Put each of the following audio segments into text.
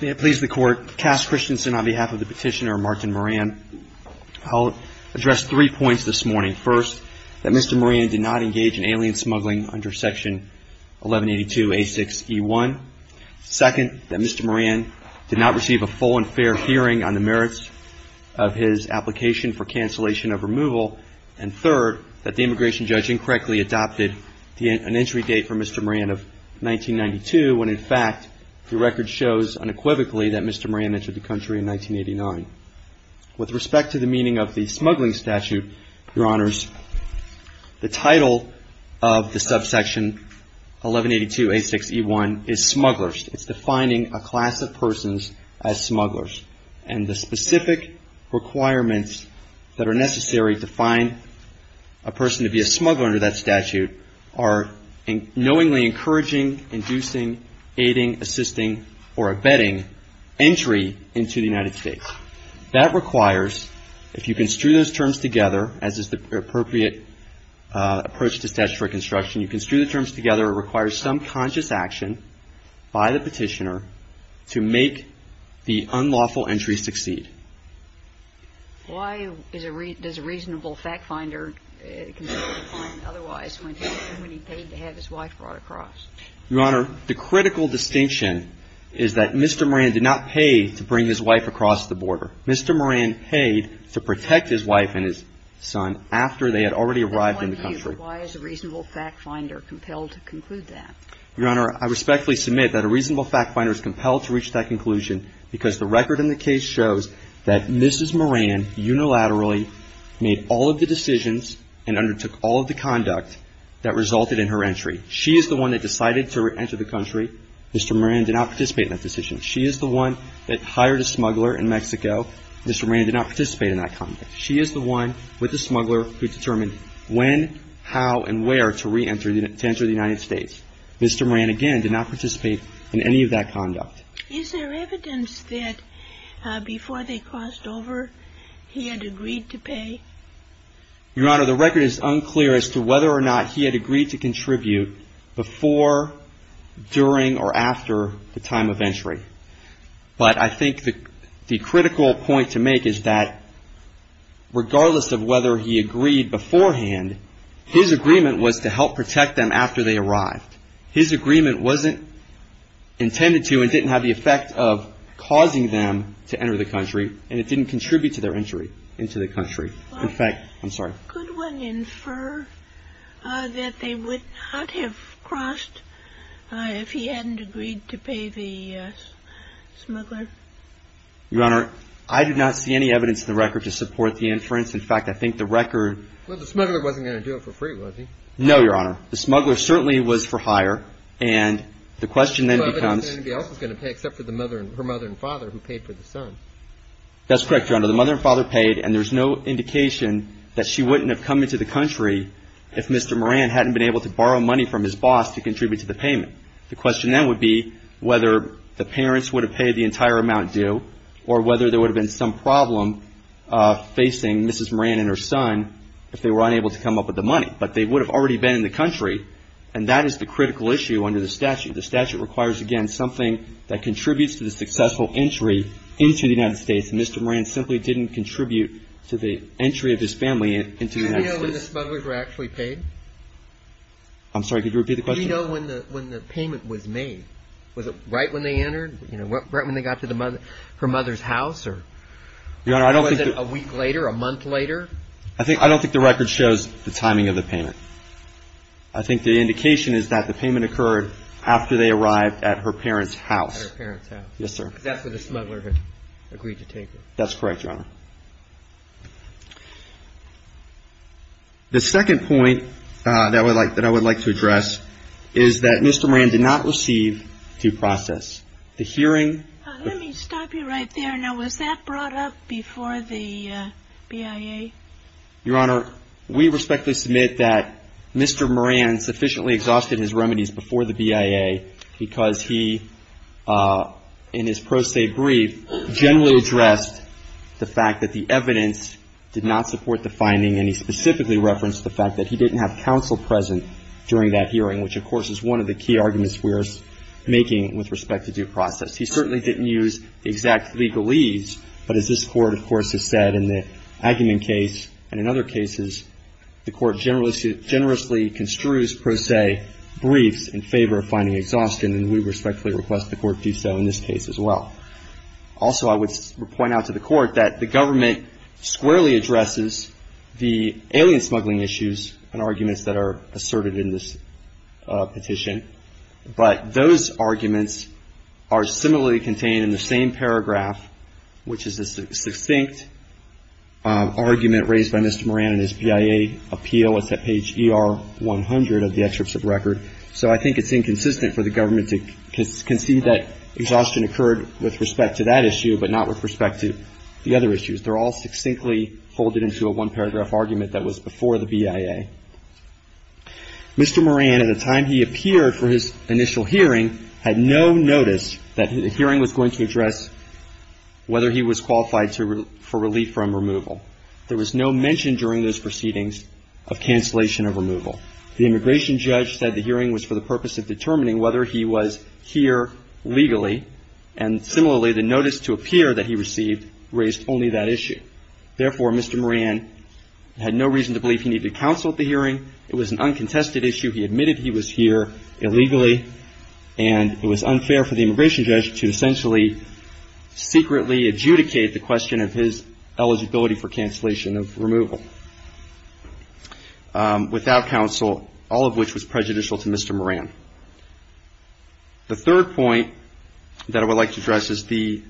May it please the Court, Cass Christensen on behalf of the petitioner, Martin Moran. I'll address three points this morning. First, that Mr. Moran did not engage in alien smuggling under Section 1182A6E1. Second, that Mr. Moran did not receive a full and fair hearing on the merits of his application for cancellation of removal. And third, that the immigration judge incorrectly adopted an entry date for Mr. Moran of 1992 when, in fact, the record shows unequivocally that Mr. Moran entered the country in 1989. With respect to the meaning of the smuggling statute, Your Honors, the title of the subsection 1182A6E1 is smugglers. It's defining a class of persons as smugglers. And the specific requirements that are necessary to find a person to be a smuggler under that statute are knowingly encouraging, inducing, aiding, assisting, or abetting entry into the United States. That requires, if you can strew those terms together, as is the appropriate approach to statutory construction, you can strew the terms together, it requires some conscious action by the Petitioner to make the unlawful entry succeed. Why does a reasonable fact-finder consider a client otherwise when he paid to have his wife brought across? Your Honor, the critical distinction is that Mr. Moran did not pay to bring his wife across the border. Mr. Moran paid to protect his wife and his son after they had already arrived in the country. Why is a reasonable fact-finder compelled to conclude that? Your Honor, I respectfully submit that a reasonable fact-finder is compelled to reach that conclusion because the record in the case shows that Mrs. Moran unilaterally made all of the decisions and undertook all of the conduct that resulted in her entry. She is the one that decided to enter the country. Mr. Moran did not participate in that decision. She is the one that hired a smuggler in Mexico. Mr. Moran did not participate in that conduct. She is the one with the smuggler who determined when, how, and where to re-enter the United States. Mr. Moran, again, did not participate in any of that conduct. Is there evidence that before they crossed over he had agreed to pay? Your Honor, the record is unclear as to whether or not he had agreed to contribute before, during, or after the time of entry. But I think the critical point to make is that regardless of whether he agreed beforehand, his agreement was to help protect them after they arrived. His agreement wasn't intended to and didn't have the effect of causing them to enter the country, and it didn't contribute to their entry into the country. In fact, I'm sorry. Could one infer that they would not have crossed if he hadn't agreed to pay the smuggler? Your Honor, I do not see any evidence in the record to support the inference. In fact, I think the record... Well, the smuggler wasn't going to do it for free, was he? No, Your Honor. The smuggler certainly was for hire, and the question then becomes... But nobody else was going to pay except for her mother and father, who paid for the son. That's correct, Your Honor. The mother and father paid, and there's no indication that she wouldn't have come into the country if Mr. Moran hadn't been able to borrow money from his boss to contribute to the payment. The question then would be whether the parents would have paid the entire amount due or whether there would have been some problem facing Mrs. Moran and her son if they were unable to come up with the money. But they would have already been in the country, and that is the critical issue under the statute. The statute requires, again, something that contributes to the successful entry into the United States, and Mr. Moran simply didn't contribute to the entry of his family into the United States. Do you know when the smugglers were actually paid? I'm sorry. Could you repeat the question? Do you know when the payment was made? Was it right when they entered? You know, right when they got to her mother's house, or... Your Honor, I don't think... Was it a week later, a month later? I don't think the record shows the timing of the payment. I think the indication is that the payment occurred after they arrived at her parents' house. At her parents' house. Yes, sir. Because that's where the smuggler had agreed to take it. That's correct, Your Honor. The second point that I would like to address is that Mr. Moran did not receive due process. The hearing... Let me stop you right there. Now, was that brought up before the BIA? Your Honor, we respectfully submit that Mr. Moran sufficiently exhausted his remedies before the BIA because he, in his pro se brief, generally addressed the fact that the evidence did not support the finding, and he specifically referenced the fact that he didn't have counsel present during that hearing, which, of course, is one of the key arguments we're making with respect to due process. He certainly didn't use exact legalese, but as this Court, of course, has said in the Aggerman case and in other cases, the Court generously construes pro se briefs in favor of finding exhaustion, and we respectfully request the Court do so in this case as well. Also, I would point out to the Court that the government squarely addresses the alien smuggling issues and arguments that are asserted in this petition, but those arguments are similarly contained in the same paragraph, which is a succinct argument raised by Mr. Moran in his BIA appeal. It's at page ER100 of the excerpts of record. So I think it's inconsistent for the government to concede that exhaustion occurred with respect to that issue, but not with respect to the other issues. They're all succinctly folded into a one-paragraph argument that was before the BIA. Mr. Moran, at the time he appeared for his initial hearing, had no notice that the hearing was going to address whether he was qualified for relief from removal. There was no mention during those proceedings of cancellation of removal. The immigration judge said the hearing was for the purpose of determining whether he was here legally, and similarly, the notice to appear that he received raised only that issue. Therefore, Mr. Moran had no reason to believe he needed to counsel at the hearing. It was an uncontested issue. He admitted he was here illegally, and it was unfair for the immigration judge to essentially secretly adjudicate the question of his eligibility for cancellation of removal. Without counsel, all of which was prejudicial to Mr. Moran. The third point that I would like to address is the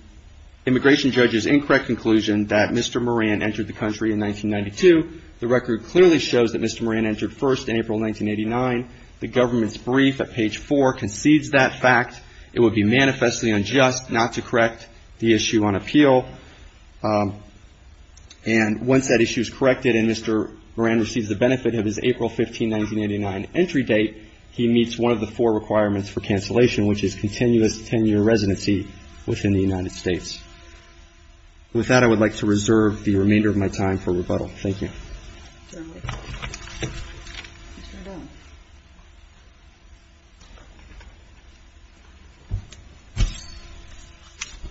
immigration judge's incorrect conclusion that Mr. Moran entered the country in 1992. The record clearly shows that Mr. Moran entered first in April 1989. The government's brief at page four concedes that fact. It would be manifestly unjust not to correct the issue on appeal. And once that issue is corrected and Mr. Moran receives the benefit of his April 15, 1989, entry date, he meets one of the four requirements for cancellation, which is continuous 10-year residency within the United States. With that, I would like to reserve the remainder of my time for rebuttal. Thank you.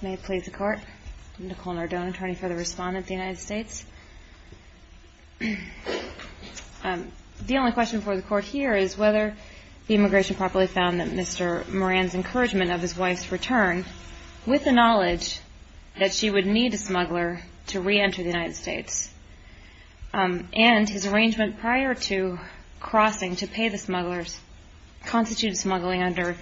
May it please the Court. I'm Nicole Nardone, attorney for the Respondent of the United States. The only question before the Court here is whether the immigration properly found that Mr. Moran's encouragement of his wife's return, with the knowledge that she would need a smuggler to reenter the United States, and his arrangement prior to crossing to pay the smugglers, constitutes smuggling under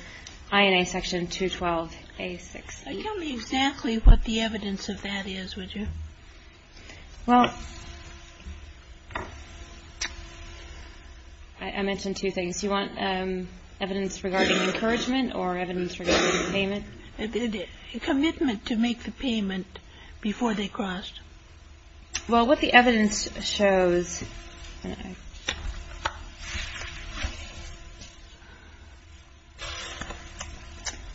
INA section 212A6. Tell me exactly what the evidence of that is, would you? Well, I mentioned two things. You want evidence regarding encouragement or evidence regarding payment? Commitment to make the payment before they crossed. Well, what the evidence shows,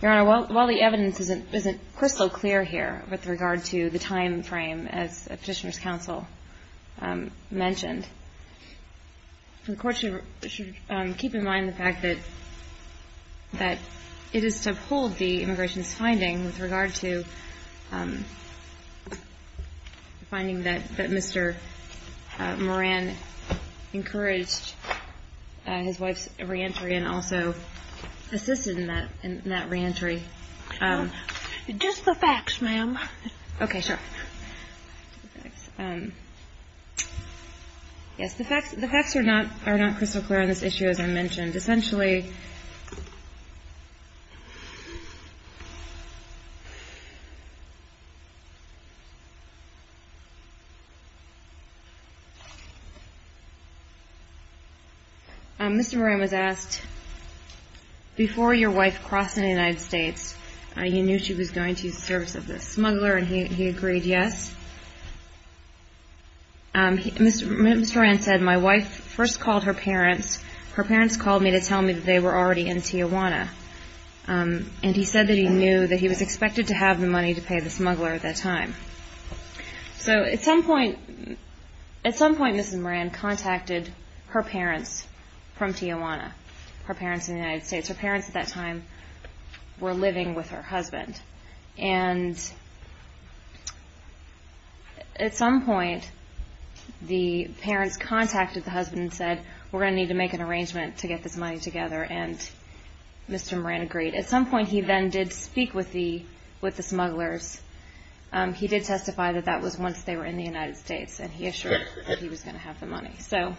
Your Honor, while the evidence isn't crystal clear here with regard to the time frame, as Petitioner's Counsel mentioned, the Court should keep in mind the fact that it is to uphold the immigration's finding with regard to the finding that Mr. Moran encouraged his wife's reentry and also assisted in that reentry. Just the facts, ma'am. Okay, sure. Yes, the facts are not crystal clear on this issue, as I mentioned. Essentially, Mr. Moran was asked, before your wife crossed in the United States, he knew she was going to use the service of the smuggler, and he agreed yes. Mr. Moran said, my wife first called her parents. Her parents called me to tell me that they were already in Tijuana, and he said that he knew that he was expected to have the money to pay the smuggler at that time. So at some point, Mrs. Moran contacted her parents from Tijuana, her parents in the United States. Her parents at that time were living with her husband, and at some point, the parents contacted the husband and said, we're going to need to make an arrangement to get this money together, and Mr. Moran agreed. At some point, he then did speak with the smugglers. He did testify that that was once they were in the United States, and he assured that he was going to have the money. So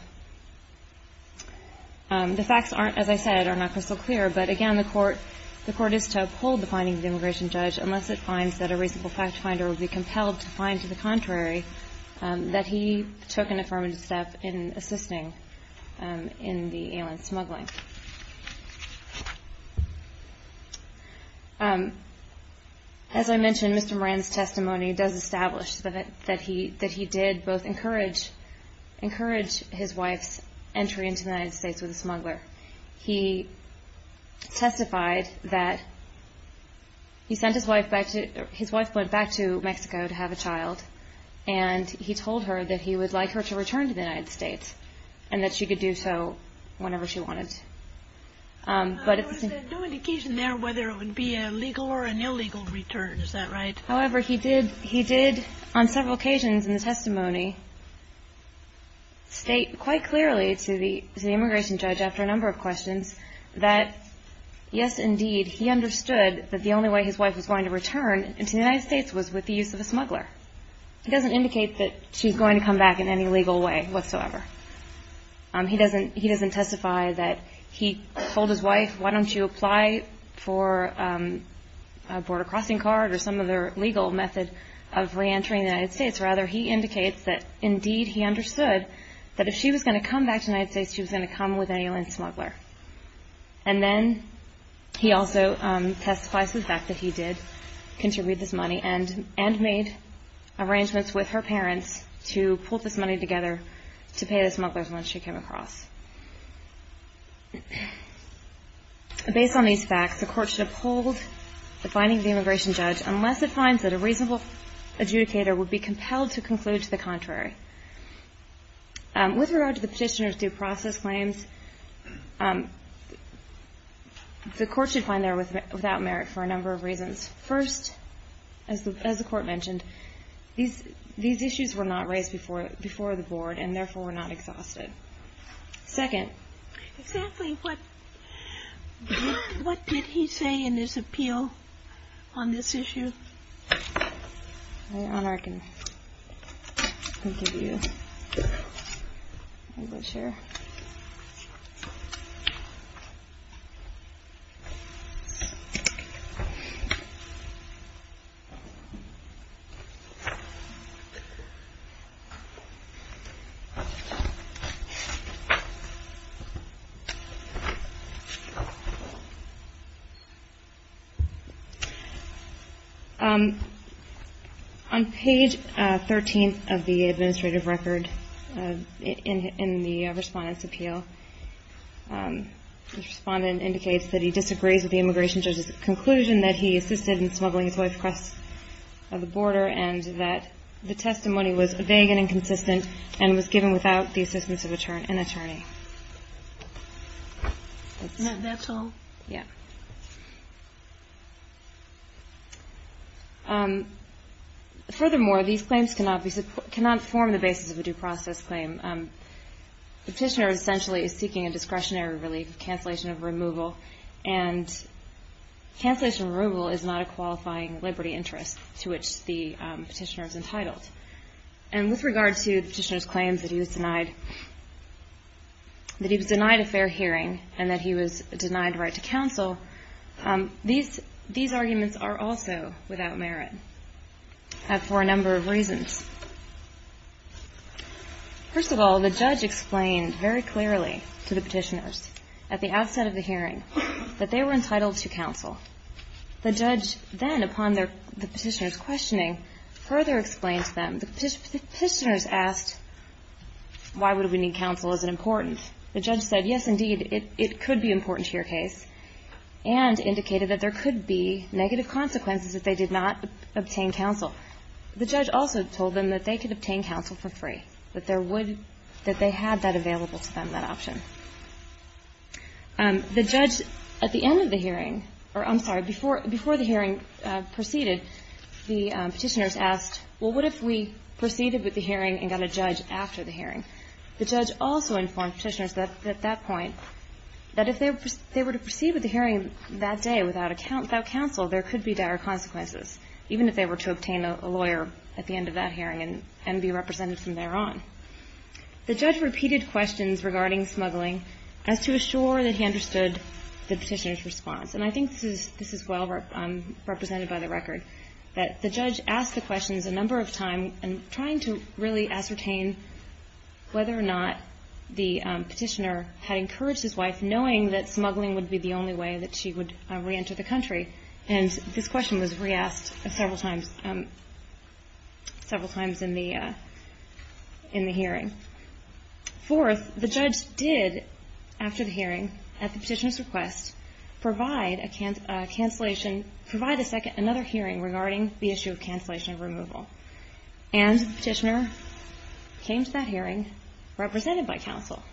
the facts aren't, as I said, are not crystal clear, but again, the court is to uphold the findings of the immigration judge unless it finds that a reasonable fact finder would be compelled to find to the contrary that he took an affirmative step in assisting in the alien smuggling. As I mentioned, Mr. Moran's testimony does establish that he did both encourage his wife's entry into the United States with a smuggler. He testified that he sent his wife back to, his wife went back to Mexico to have a child, and he told her that he would like her to return to the United States and that she could do so whenever she wanted. However, he did on several occasions in the testimony, state quite clearly to the immigration judge after a number of questions that yes, indeed, he understood that the only way his wife was going to return into the United States was with the use of a smuggler. He doesn't indicate that she's going to come back in any legal way whatsoever. He doesn't testify that he told his wife, why don't you apply for a border crossing card or some other legal method of reentering the United States. Rather, he indicates that indeed he understood that if she was going to come back to the United States, she was going to come with an alien smuggler. And then he also testifies to the fact that he did contribute this money and made arrangements with her parents to pull this money together to pay this smuggler when she came across. Based on these facts, the court should uphold the finding of the immigration judge unless it finds that a reasonable adjudicator would be compelled to conclude to the contrary. With regard to the petitioner's due process claims, the court should find they're without merit for a number of reasons. First, as the court mentioned, these issues were not raised before the board and therefore were not exhausted. Second. Exactly what did he say in his appeal on this issue? Your Honor, I can give you English here. On page 13 of the administrative record in the Respondent's appeal, the Respondent indicates that he disagrees with the immigration judge's conclusion that he assisted in smuggling his wife across the border and that the testimony was vague and inconsistent and was given without the assistance of an attorney. That's all? Furthermore, these claims cannot form the basis of a due process claim. Petitioner essentially is seeking a discretionary relief, cancellation of removal, and cancellation of removal is not a qualifying liberty interest to which the petitioner is entitled. And with regard to the petitioner's claims that he was denied a fair hearing and that he was denied a right to counsel, these arguments are also without merit for a number of reasons. First of all, the judge explained very clearly to the petitioners at the outset of the hearing that they were entitled to counsel. The judge then, upon the petitioner's questioning, further explained to them, the petitioners asked, why would we need counsel? Is it important? The judge said, yes, indeed, it could be important to your case, and indicated that there could be negative consequences if they did not obtain counsel. The judge also told them that they could obtain counsel for free, that there would, that they had that available to them, that option. The judge, at the end of the hearing, or I'm sorry, before the hearing proceeded, the petitioners asked, well, what if we proceeded with the hearing and got a judge after the hearing? The judge also informed petitioners at that point that if they were to proceed with the hearing that day without counsel, there could be dire consequences, even if they were to obtain a lawyer at the end of that hearing and be represented from thereon. The judge repeated questions regarding smuggling as to assure that he understood the petitioner's response. And I think this is well represented by the record, that the judge asked the questions a number of times, and trying to really ascertain whether or not the petitioner had encouraged his wife, knowing that smuggling would be the only way that she would reenter the country. And this question was re-asked several times, several times in the hearing. Fourth, the judge did, after the hearing, at the petitioner's request, provide a cancellation, provide another hearing regarding the issue of cancellation of removal. And the petitioner came to that hearing, again, represented by counsel.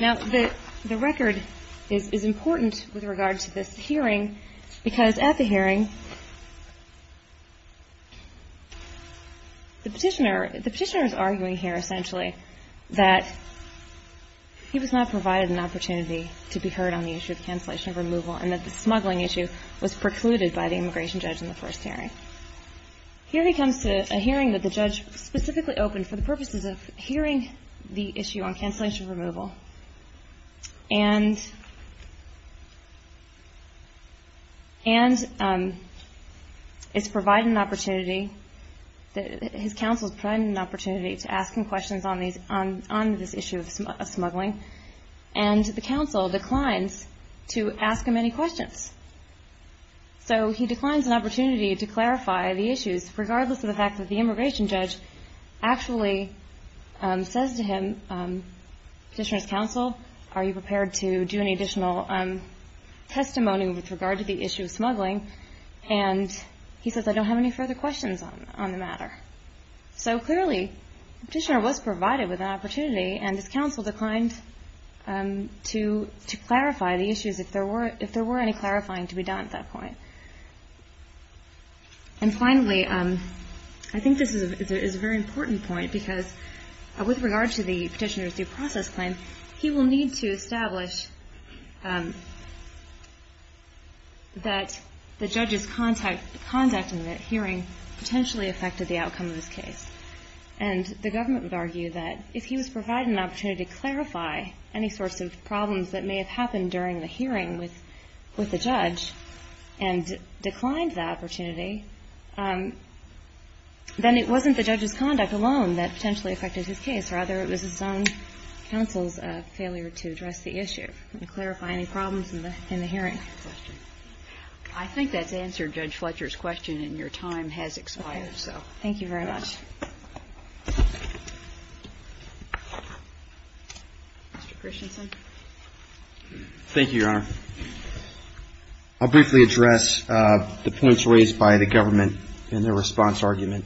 Now, the record is important with regard to this hearing, because at the hearing, the petitioner is arguing here, essentially, that he was not provided an opportunity to be heard on the issue of cancellation of removal, and that the smuggling issue was precluded by the immigration judge in the first hearing. Here he comes to a hearing that the judge specifically opened for the purposes of hearing the issue on cancellation of removal, and is provided an opportunity, his counsel is provided an opportunity to ask him questions on this issue of smuggling. And the counsel declines to ask him any questions. So he declines an opportunity to clarify the issues, regardless of the fact that the immigration judge actually says to him, petitioner's counsel, are you prepared to do any additional testimony with regard to the issue of smuggling? And he says, I don't have any further questions on the matter. So clearly, the petitioner was provided with an opportunity, and his counsel declined to clarify the issues, if there were any clarifying to be done at that point. And finally, I think this is a very important point, because with regard to the petitioner's due process claim, he will need to establish that the judge's conduct in that hearing potentially affected the outcome of his case. And the government would argue that if he was provided an opportunity to clarify any sorts of problems that may have happened during the hearing with the judge, and declined the opportunity, then it wasn't the judge's conduct alone that potentially affected his case. Rather, it was his own counsel's failure to address the issue and clarify any problems in the hearing. I think that's answered Judge Fletcher's question, and your time has expired. Thank you very much. Thank you, Your Honor. I'll briefly address the points raised by the government in their response argument.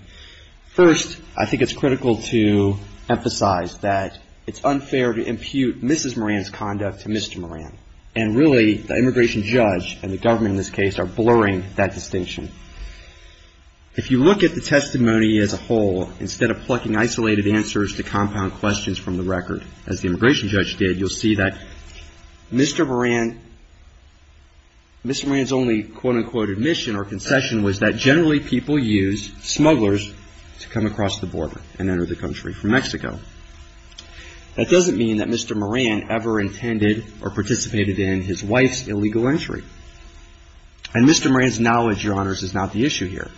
First, I think it's critical to emphasize that it's unfair to impute Mrs. Moran's conduct to Mr. Moran. And really, the immigration judge and the government in this case are blurring that distinction. If you look at the testimony as a whole, instead of plucking isolated answers to compound questions from the record, as the immigration judge did, you'll see that Mr. Moran's only quote-unquote admission or concession was that generally people use smugglers to come across the border and enter the country from Mexico. That doesn't mean that Mr. Moran did not make an illegal entry. And Mr. Moran's knowledge, Your Honors, is not the issue here.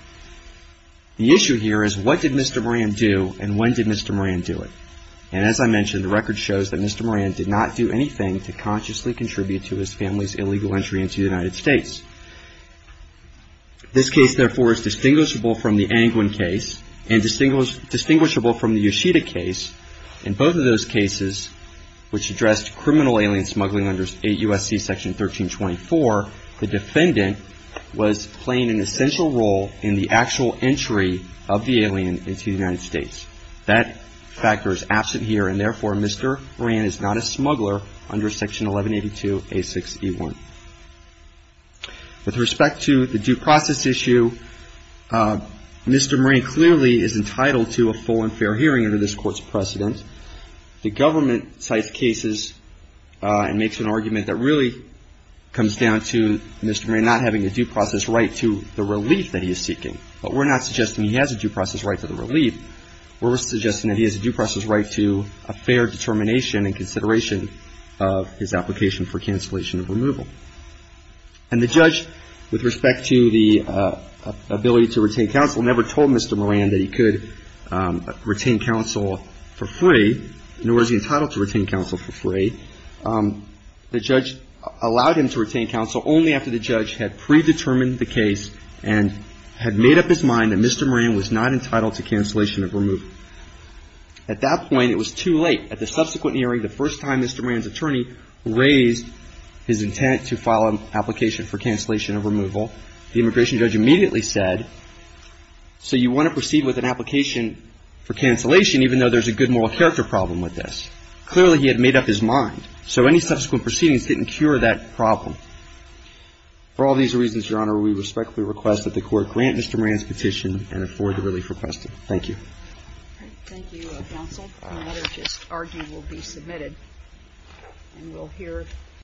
The issue here is what did Mr. Moran do and when did Mr. Moran do it? And as I mentioned, the record shows that Mr. Moran did not do anything to consciously contribute to his family's illegal entry into the United States. This case, therefore, is distinguishable from the Angwin case and distinguishable from the Yoshida case, and both of those cases which addressed criminal alien smuggling under 8 U.S.C. Section 1324, the defendant was playing an essential role in the actual entry of the alien into the United States. That factor is absent here, and therefore, Mr. Moran is not a smuggler under Section 1182A6E1. With respect to the due process issue, Mr. Moran clearly is not a smuggler under Section 1182A6E1. Mr. Moran cites cases and makes an argument that really comes down to Mr. Moran not having a due process right to the relief that he is seeking. But we're not suggesting he has a due process right to the relief. We're suggesting that he has a due process right to a fair determination and consideration of his application for cancellation of removal. And the judge, with respect to the ability to retain counsel, never told Mr. Moran that he could retain counsel for free, nor is he entitled to retain counsel for free. The judge allowed him to retain counsel only after the judge had predetermined the case and had made up his mind that Mr. Moran was not entitled to cancellation of removal. At that point, it was too late. At the subsequent hearing, the first time Mr. Moran's attorney raised his intent to file an application for cancellation of removal, the immigration judge immediately said, so you want to proceed with an application for cancellation even though there's a good moral character problem with this? Clearly, he had made up his mind. So any subsequent proceedings didn't cure that problem. For all these reasons, Your Honor, we respectfully request that the Court grant Mr. Moran's petition and Thank you, counsel. The matter just argued will be submitted and we'll hear